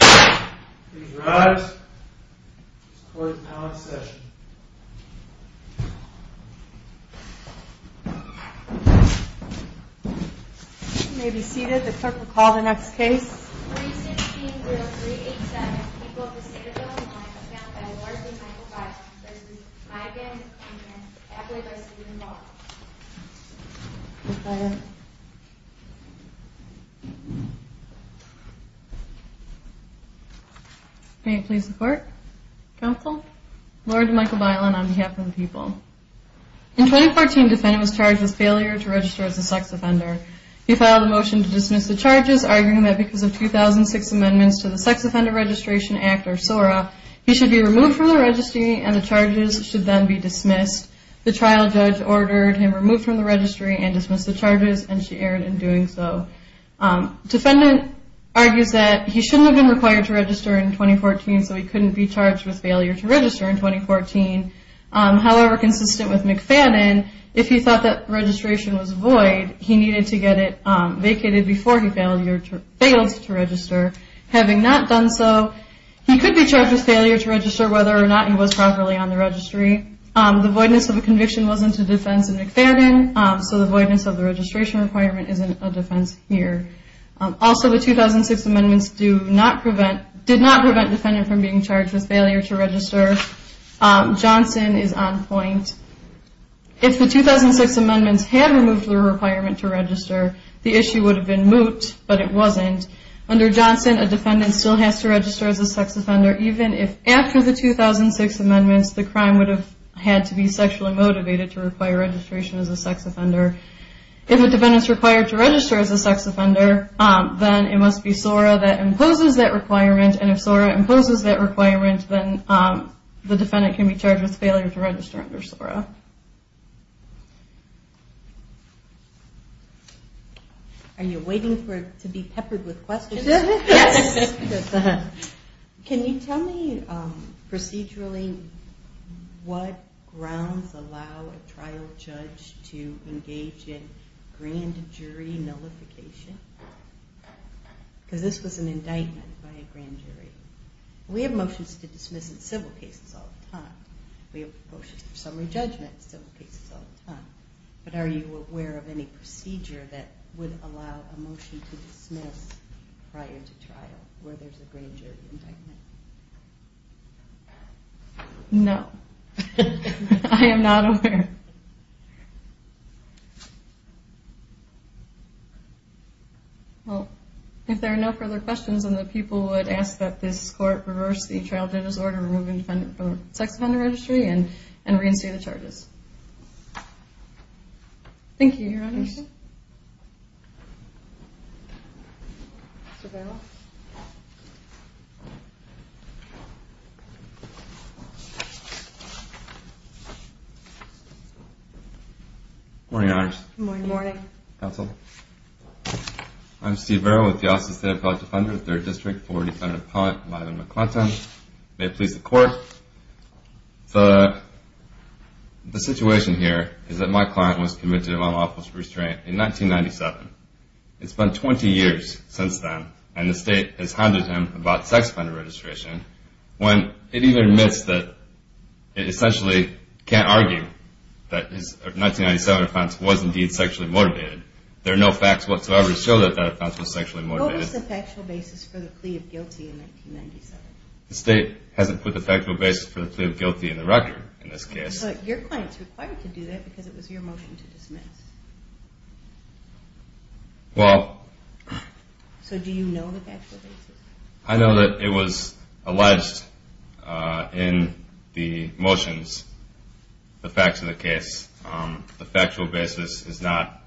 Please rise. This court is now in session. You may be seated. The clerk will call the next case. Case 3-16-0387, People of the State of Illinois, is now filed by Lord v. Michael Bailen v. Iben and appellate v. Susan Ball. May it please the court? Counsel? Lord Michael Bailen on behalf of the people. In 2014, the defendant was charged with failure to register as a sex offender. He filed a motion to dismiss the charges, arguing that because of 2006 amendments to the Sex Offender Registration Act, or SORA, he should be removed from the registry and the charges should then be dismissed. The trial judge ordered him removed from the registry and dismissed the charges, and she erred in doing so. The defendant argues that he shouldn't have been required to register in 2014, so he couldn't be charged with failure to register in 2014. However, consistent with McFadden, if he thought that registration was void, he needed to get it vacated before he failed to register. Having not done so, he could be charged with failure to register whether or not he was properly on the registry. The voidness of a conviction wasn't a defense in McFadden, so the voidness of the registration requirement isn't a defense here. Also, the 2006 amendments did not prevent the defendant from being charged with failure to register. Johnson is on point. If the 2006 amendments had removed the requirement to register, the issue would have been moot, but it wasn't. Under Johnson, a defendant still has to register as a sex offender even if, after the 2006 amendments, the crime would have had to be sexually motivated to require registration as a sex offender. If a defendant is required to register as a sex offender, then it must be SORA that imposes that requirement, and if SORA imposes that requirement, then the defendant can be charged with failure to register under SORA. Are you waiting to be peppered with questions? Yes. Can you tell me procedurally what grounds allow a trial judge to engage in grand jury nullification? Because this was an indictment by a grand jury. We have motions to dismiss in civil cases all the time. We have motions for summary judgment in civil cases all the time. But are you aware of any procedure that would allow a motion to dismiss prior to trial where there's a grand jury indictment? No. I am not aware. Well, if there are no further questions, then the people would ask that this court reverse the trial judge's order removing the sex offender registry and reinstate the charges. Thank you, Your Honor. Thank you. Good morning, Your Honor. Good morning. Counsel. I'm Steve Vero with the Austin State Appellate Defender, 3rd District, for Defendant Appellant Lila McClinton. May it please the Court. The situation here is that my client was convicted of unlawful restraint in 1997. It's been 20 years since then, and the State has hounded him about sex offender registration, when it even admits that it essentially can't argue that his 1997 offense was indeed sexually motivated. There are no facts whatsoever to show that that offense was sexually motivated. What was the factual basis for the plea of guilty in 1997? The State hasn't put the factual basis for the plea of guilty in the record in this case. But your client is required to do that because it was your motion to dismiss. Well. So do you know the factual basis? I know that it was alleged in the motions, the facts of the case. The factual basis is not,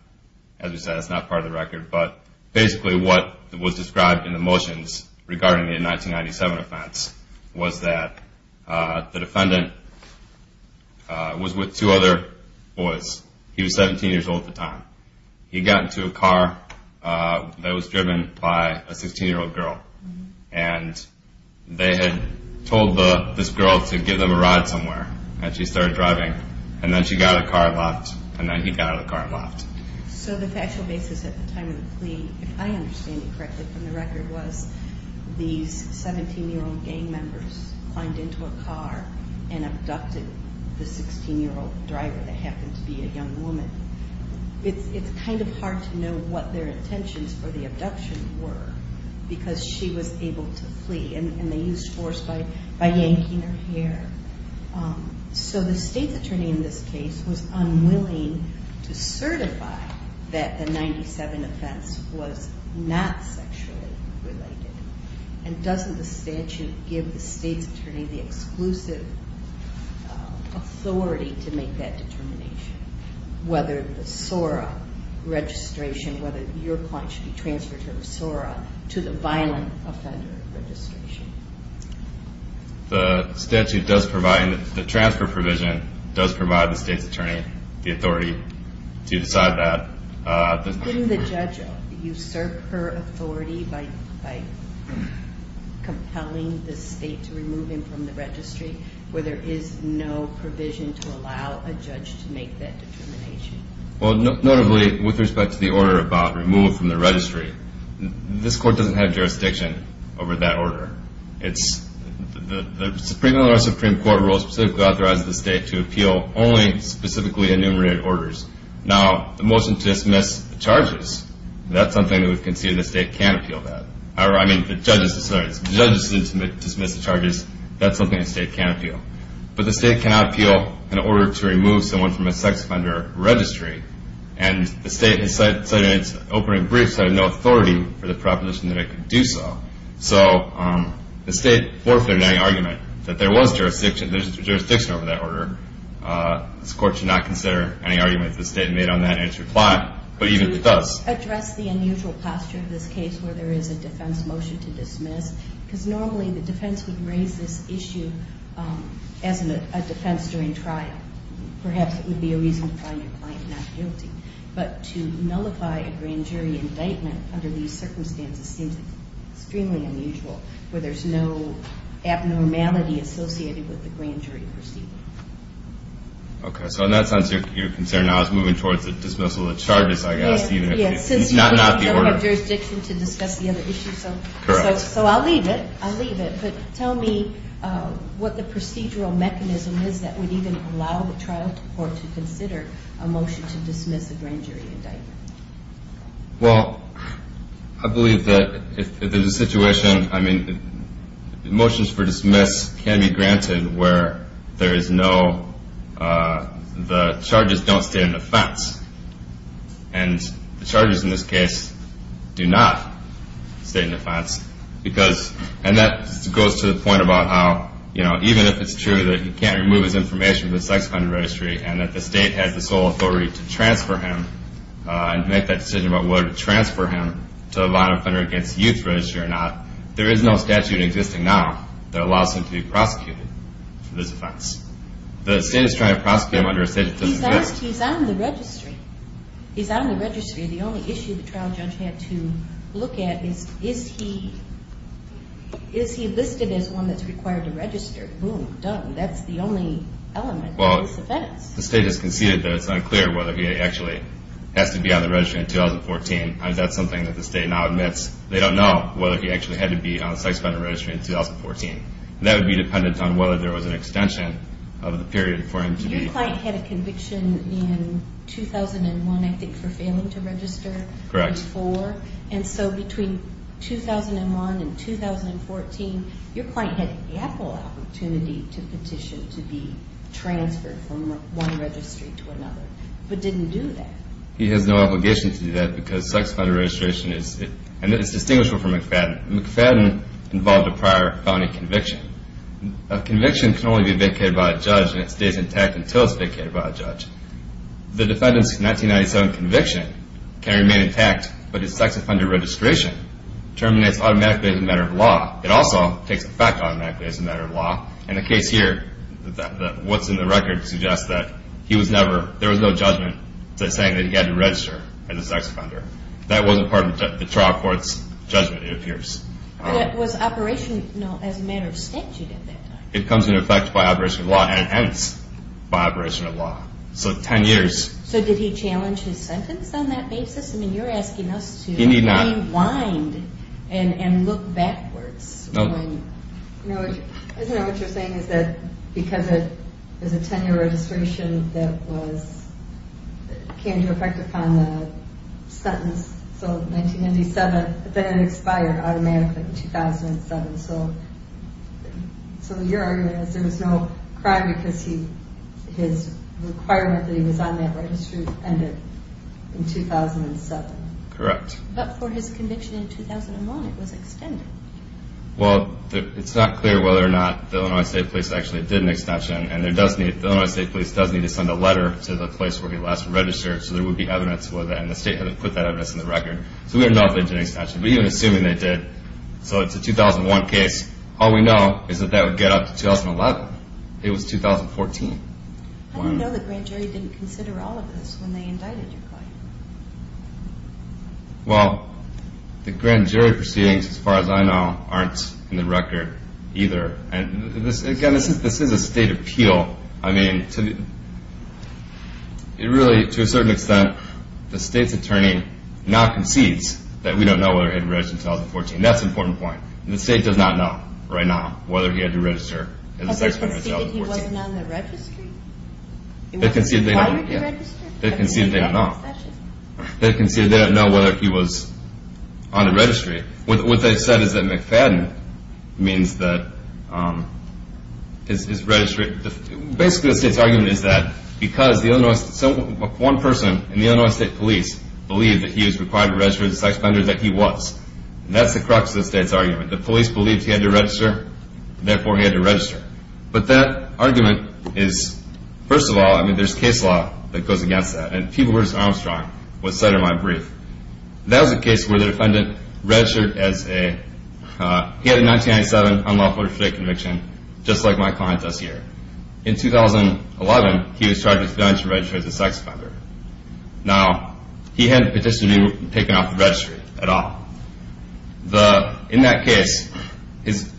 as you said, it's not part of the record. But basically what was described in the motions regarding the 1997 offense was that the defendant was with two other boys. He was 17 years old at the time. He got into a car that was driven by a 16-year-old girl. And they had told this girl to give them a ride somewhere. And she started driving. And then she got out of the car and left. And then he got out of the car and left. So the factual basis at the time of the plea, if I understand it correctly from the record, was these 17-year-old gang members climbed into a car and abducted the 16-year-old driver that happened to be a young woman. It's kind of hard to know what their intentions for the abduction were because she was able to flee. And they used force by yanking her hair. So the state's attorney in this case was unwilling to certify that the 1997 offense was not sexually related. And doesn't the statute give the state's attorney the exclusive authority to make that determination? Whether the SORA registration, whether your client should be transferred from SORA to the violent offender registration. The statute does provide, and the transfer provision does provide the state's attorney the authority to decide that. Didn't the judge usurp her authority by compelling the state to remove him from the registry where there is no provision to allow a judge to make that determination? Well, notably with respect to the order about removal from the registry, this court doesn't have jurisdiction over that order. The Supreme Court rules specifically authorize the state to appeal only specifically enumerated orders. Now, the motion to dismiss charges, that's something we can see the state can appeal that. I mean, the judge's decision to dismiss the charges, that's something the state can appeal. But the state cannot appeal an order to remove someone from a sex offender registry. And the state has said in its opening briefs that it had no authority for the proposition that it could do so. So the state forfeited any argument that there was jurisdiction over that order. This court should not consider any arguments the state made on that and its reply, but even if it does. Could you address the unusual posture of this case where there is a defense motion to dismiss? Because normally the defense would raise this issue as a defense during trial. Perhaps it would be a reason to find your client not guilty. But to nullify a grand jury indictment under these circumstances seems extremely unusual where there's no abnormality associated with the grand jury proceeding. Okay. So in that sense, your concern now is moving towards the dismissal of charges, I guess. Yes. It's not the order. Since you don't have jurisdiction to discuss the other issues. Correct. So I'll leave it. I'll leave it. But tell me what the procedural mechanism is that would even allow the trial court to consider a motion to dismiss a grand jury indictment. Well, I believe that if there's a situation, I mean, motions for dismiss can be granted where there is no, the charges don't state an offense. And the charges in this case do not state an offense. Because, and that goes to the point about how, you know, even if it's true that he can't remove his information from the sex offender registry and that the state has the sole authority to transfer him and make that decision about whether to transfer him to a violent offender against youth registry or not, there is no statute existing now that allows him to be prosecuted for this offense. The state is trying to prosecute him under a state that doesn't exist. He's on the registry. He's on the registry. The only issue the trial judge had to look at is, is he listed as one that's required to register? Boom. Done. That's the only element of this offense. Well, the state has conceded that it's unclear whether he actually has to be on the registry in 2014. That's something that the state now admits. They don't know whether he actually had to be on the sex offender registry in 2014. That would be dependent on whether there was an extension of the period for him to be. Your client had a conviction in 2001, I think, for failing to register in 2004. Correct. And so between 2001 and 2014, your client had ample opportunity to petition to be transferred from one registry to another, but didn't do that. He has no obligation to do that because sex offender registration is, and it's distinguishable from McFadden. McFadden involved a prior felony conviction. A conviction can only be vacated by a judge, and it stays intact until it's vacated by a judge. The defendant's 1997 conviction can remain intact, but his sex offender registration terminates automatically as a matter of law. It also takes effect automatically as a matter of law. In the case here, what's in the record suggests that there was no judgment saying that he had to register as a sex offender. That wasn't part of the trial court's judgment, it appears. But it was operational as a matter of statute at that time. It comes into effect by operation of law and ends by operation of law. So 10 years. So did he challenge his sentence on that basis? I mean, you're asking us to rewind and look backwards. Isn't that what you're saying is that because there's a 10-year registration that came into effect upon the sentence, so 1997, the defendant expired automatically in 2007. So your argument is there was no crime because his requirement that he was on that registry ended in 2007. Correct. But for his conviction in 2001, it was extended. Well, it's not clear whether or not the Illinois State Police actually did an extension, and the Illinois State Police does need to send a letter to the place where he last registered so there would be evidence with it, and the state hasn't put that evidence in the record. So we don't know if they did an extension, but even assuming they did, so it's a 2001 case, all we know is that that would get up to 2011. It was 2014. How do you know the grand jury didn't consider all of this when they indicted your client? Well, the grand jury proceedings, as far as I know, aren't in the record either. Again, this is a state appeal. I mean, really, to a certain extent, the state's attorney now concedes that we don't know whether he registered in 2014. That's an important point. The state does not know right now whether he had to register. They conceded he wasn't on the registry? They conceded they were not. They conceded they don't know whether he was on the registry. What they've said is that McFadden means that he's registered. Basically, the state's argument is that because one person in the Illinois State Police believed that he was required to register as a sex offender, that he was. That's the crux of the state's argument. The police believed he had to register. Therefore, he had to register. But that argument is, first of all, I mean, there's case law that goes against that. And people where Armstrong was cited in my brief. That was a case where the defendant registered as a, he had a 1997 unlawful restraining conviction, just like my client does here. In 2011, he was charged with failing to register as a sex offender. Now, he hadn't petitioned to be taken off the registry at all. In that case, his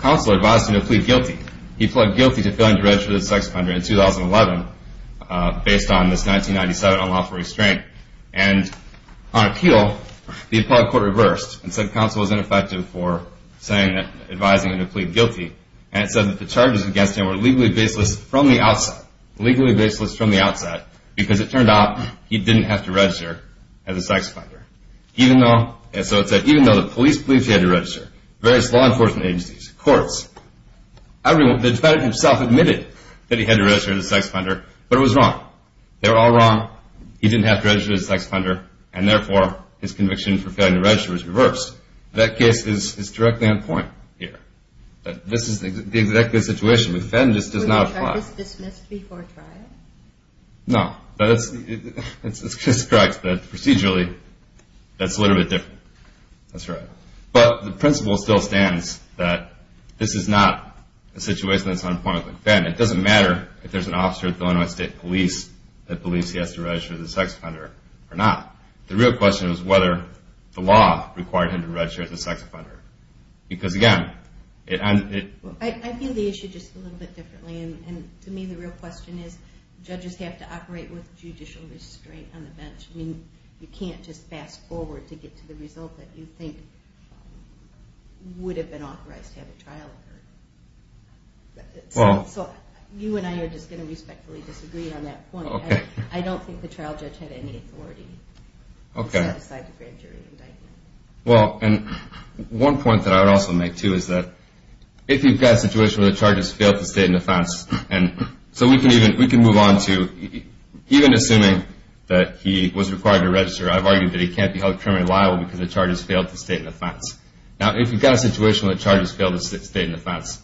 counsel advised him to plead guilty. He pled guilty to failing to register as a sex offender in 2011, based on this 1997 unlawful restraint. And on appeal, the applied court reversed and said counsel was ineffective for advising him to plead guilty. And it said that the charges against him were legally baseless from the outset. Legally baseless from the outset. Because it turned out he didn't have to register as a sex offender. Even though, and so it said, even though the police believed he had to register, various law enforcement agencies, courts, everyone, the defendant himself admitted that he had to register as a sex offender. But it was wrong. They were all wrong. He didn't have to register as a sex offender. And therefore, his conviction for failing to register was reversed. That case is directly on point here. This is the exact situation. The defendant just does not apply. Was the charges dismissed before trial? No. That's correct. Procedurally, that's a little bit different. That's right. But the principle still stands that this is not a situation that's on point with the defendant. It doesn't matter if there's an officer at the Illinois State Police that believes he has to register as a sex offender or not. The real question is whether the law required him to register as a sex offender. Because, again, it ends with... I feel the issue just a little bit differently. To me, the real question is judges have to operate with judicial restraint on the bench. You can't just fast forward to get to the result that you think would have been authorized to have a trial. So you and I are just going to respectfully disagree on that point. I don't think the trial judge had any authority to set aside the grand jury indictment. Well, and one point that I would also make, too, is that if you've got a situation where the charge has failed to state an offense, and so we can move on to even assuming that he was required to register, I've argued that he can't be held criminally liable because the charge has failed to state an offense. Now, if you've got a situation where the charge has failed to state an offense,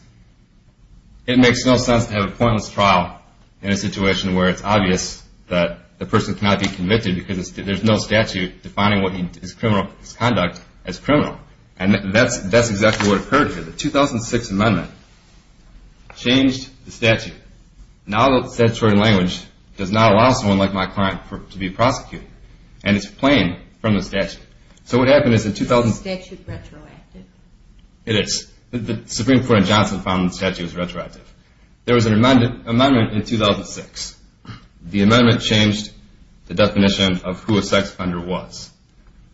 it makes no sense to have a pointless trial in a situation where it's obvious that the person cannot be convicted because there's no statute defining his conduct as criminal. And that's exactly what occurred here. The 2006 amendment changed the statute. Now the statutory language does not allow someone like my client to be prosecuted, and it's plain from the statute. Is the statute retroactive? It is. The Supreme Court in Johnson found the statute was retroactive. There was an amendment in 2006. The amendment changed the definition of who a sex offender was.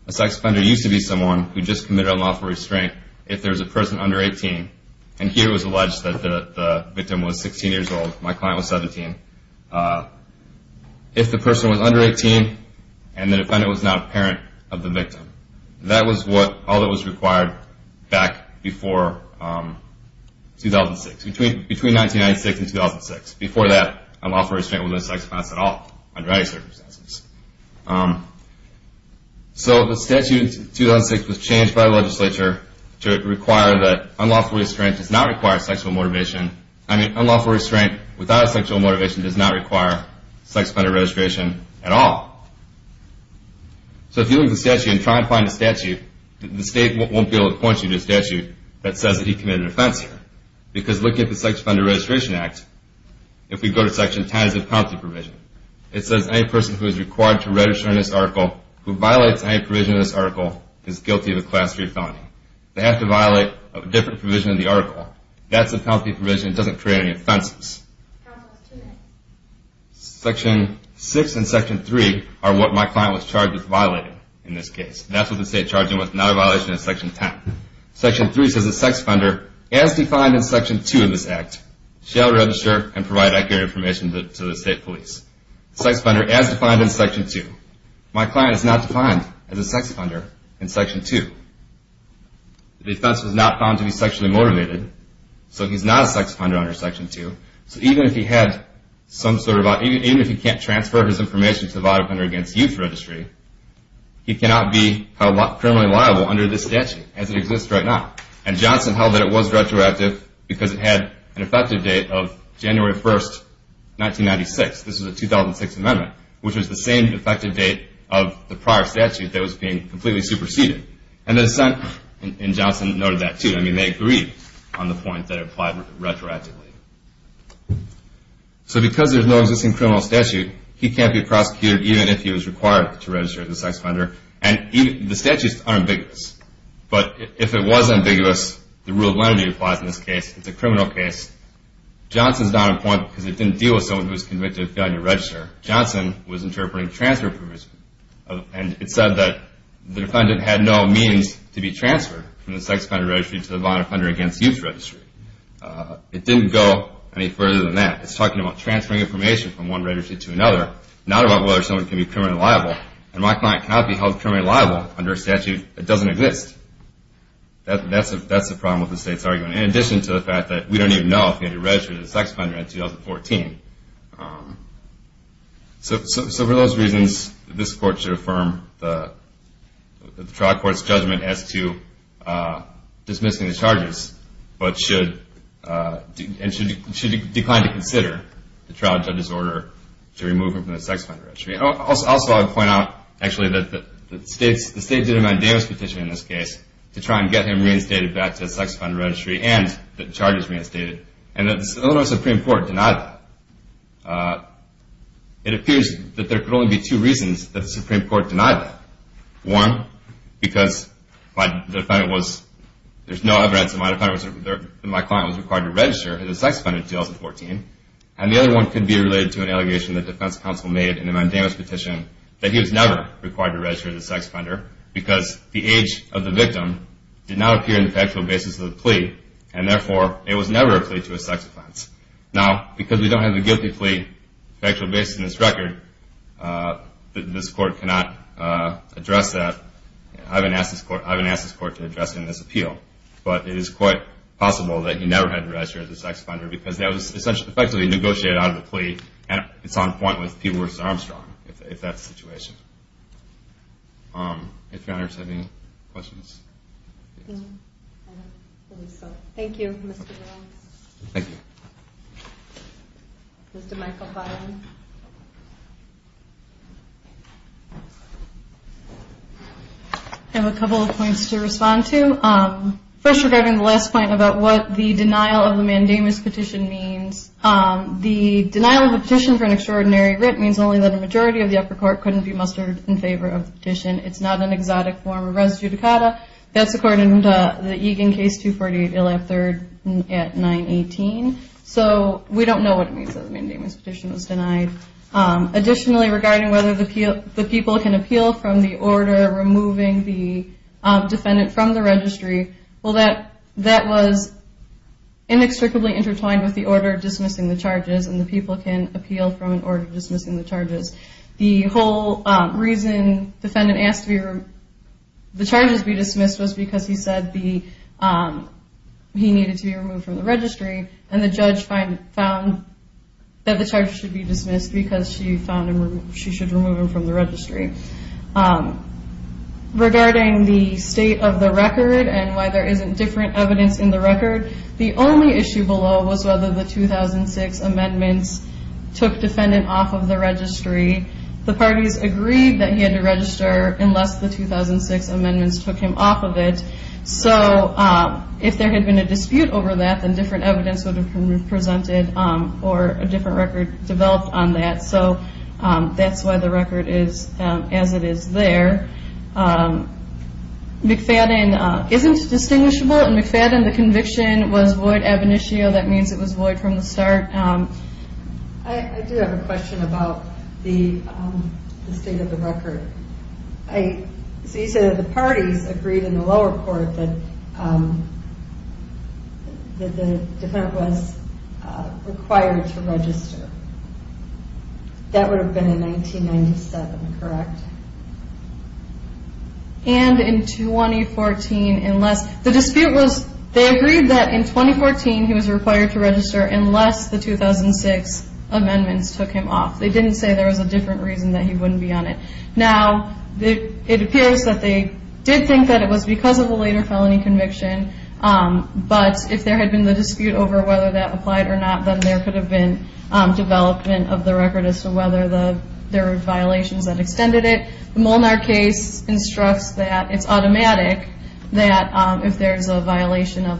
A sex offender used to be someone who just committed unlawful restraint if there was a person under 18, and here it was alleged that the victim was 16 years old. My client was 17. If the person was under 18 and the defendant was not a parent of the victim, that was all that was required back before 2006, between 1996 and 2006. Before that, unlawful restraint was not a sex offense at all under any circumstances. So the statute in 2006 was changed by the legislature to require that unlawful restraint does not require sexual motivation. I mean, unlawful restraint without sexual motivation does not require sex offender registration at all. So if you look at the statute and try to find a statute, the state won't be able to point you to a statute that says that he committed an offense here If we go to section 10, it's a penalty provision. It says any person who is required to register in this article, who violates any provision in this article, is guilty of a class 3 felony. They have to violate a different provision in the article. That's a penalty provision. It doesn't create any offenses. Section 6 and section 3 are what my client was charged with violating in this case. That's what the state charged him with, not a violation of section 10. Section 3 says a sex offender, as defined in section 2 of this act, shall register and provide accurate information to the state police. Sex offender as defined in section 2. My client is not defined as a sex offender in section 2. The offense was not found to be sexually motivated, so he's not a sex offender under section 2. So even if he can't transfer his information to the Violent Offender Against Youth Registry, he cannot be criminally liable under this statute as it exists right now. And Johnson held that it was retroactive because it had an effective date of January 1, 1996. This was the 2006 amendment, which was the same effective date of the prior statute that was being completely superseded. And the dissent in Johnson noted that, too. I mean, they agreed on the point that it applied retroactively. So because there's no existing criminal statute, he can't be prosecuted even if he was required to register as a sex offender. The statute's unambiguous. But if it was ambiguous, the rule of lenity applies in this case. It's a criminal case. Johnson's not on point because it didn't deal with someone who was convicted of failure to register. Johnson was interpreting transfer approvals, and it said that the defendant had no means to be transferred from the Sex Offender Registry to the Violent Offender Against Youth Registry. It didn't go any further than that. It's talking about transferring information from one registry to another, not about whether someone can be criminally liable. And my client cannot be held criminally liable under a statute that doesn't exist. That's the problem with the state's argument, in addition to the fact that we don't even know if he had to register as a sex offender in 2014. So for those reasons, this Court should affirm the trial court's judgment as to dismissing the charges, but should decline to consider the trial judge's order to remove him from the Sex Offender Registry. Also, I would point out, actually, that the state did a mandamus petition in this case to try and get him reinstated back to the Sex Offender Registry and the charges reinstated, and the Illinois Supreme Court denied that. It appears that there could only be two reasons that the Supreme Court denied that. One, because there's no evidence that my client was required to register as a sex offender in 2014, and the other one could be related to an allegation the defense counsel made in a mandamus petition that he was never required to register as a sex offender because the age of the victim did not appear in the factual basis of the plea, and therefore it was never a plea to a sex offense. Now, because we don't have a guilty plea factual basis in this record, this Court cannot address that. I haven't asked this Court to address it in this appeal, but it is quite possible that he never had to register as a sex offender because that was effectively negotiated out of the plea, and it's on point with P. Lewis Armstrong if that's the situation. If your honors have any questions. Thank you, Mr. Williams. Thank you. Mr. Michael Byron. I have a couple of points to respond to. First, regarding the last point about what the denial of the mandamus petition means, the denial of a petition for an extraordinary writ means only that a majority of the upper court couldn't be mustered in favor of the petition. It's not an exotic form of res judicata. That's according to the Egan case 248, Ilia III at 918. So we don't know what it means that the mandamus petition was denied. Additionally, regarding whether the people can appeal from the order removing the defendant from the registry, well, that was inextricably intertwined with the order dismissing the charges and the people can appeal from an order dismissing the charges. The whole reason the defendant asked the charges be dismissed was because he said he needed to be removed from the registry, and the judge found that the charges should be dismissed because she found she should remove him from the registry. Regarding the state of the record and why there isn't different evidence in the record, the only issue below was whether the 2006 amendments took defendant off of the registry. The parties agreed that he had to register unless the 2006 amendments took him off of it. So if there had been a dispute over that, then different evidence would have been presented or a different record developed on that. So that's why the record is as it is there. McFadden isn't distinguishable. In McFadden, the conviction was void ab initio. That means it was void from the start. I do have a question about the state of the record. So you said that the parties agreed in the lower court that the defendant was required to register. That would have been in 1997, correct? And in 2014, unless the dispute was, they agreed that in 2014 he was required to register unless the 2006 amendments took him off. They didn't say there was a different reason that he wouldn't be on it. Now, it appears that they did think that it was because of a later felony conviction, but if there had been the dispute over whether that applied or not, then there could have been development of the record as to whether there were violations that extended it. The Molnar case instructs that it's automatic that if there's a violation of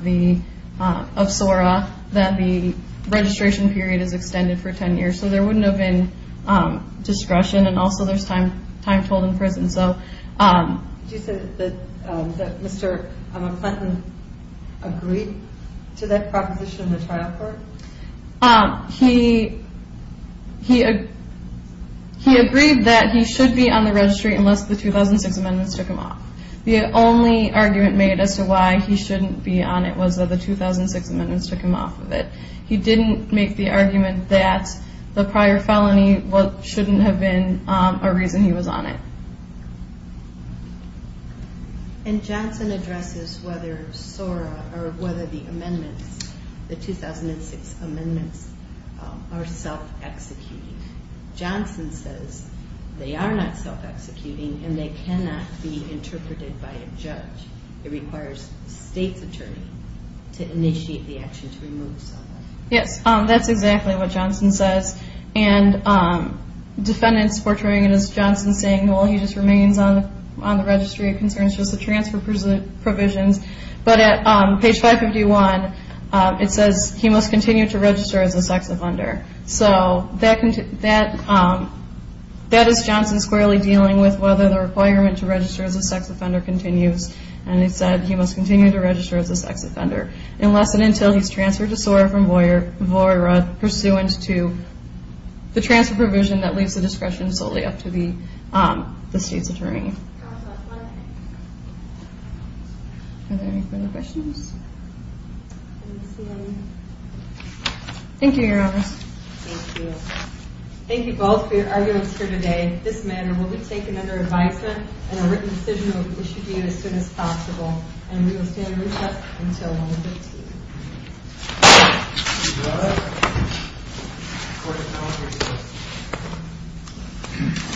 SORA, that the registration period is extended for 10 years. So there wouldn't have been discretion, and also there's time told in prison. Did you say that Mr. McFadden agreed to that proposition in the trial court? He agreed that he should be on the registry unless the 2006 amendments took him off. The only argument made as to why he shouldn't be on it was that the 2006 amendments took him off of it. He didn't make the argument that the prior felony shouldn't have been a reason he was on it. And Johnson addresses whether SORA or whether the amendments, the 2006 amendments, are self-executing. Johnson says they are not self-executing and they cannot be interpreted by a judge. It requires the state's attorney to initiate the action to remove SORA. Yes, that's exactly what Johnson says. And defendants portraying it as Johnson saying, well, he just remains on the registry. It concerns just the transfer provisions. But at page 551, it says he must continue to register as a sex offender. So that is Johnson squarely dealing with whether the requirement to register as a sex offender continues. And it said he must continue to register as a sex offender unless and until he's transferred to SORA from VOIRA pursuant to the transfer provision that leaves the discretion solely up to the state's attorney. Are there any further questions? Thank you, Your Honor. Thank you. Thank you both for your arguments here today. This matter will be taken under advisement and a written decision will be issued to you as soon as possible. And we will stay in recess until 1.15. Thank you, Your Honor. Court is now in recess.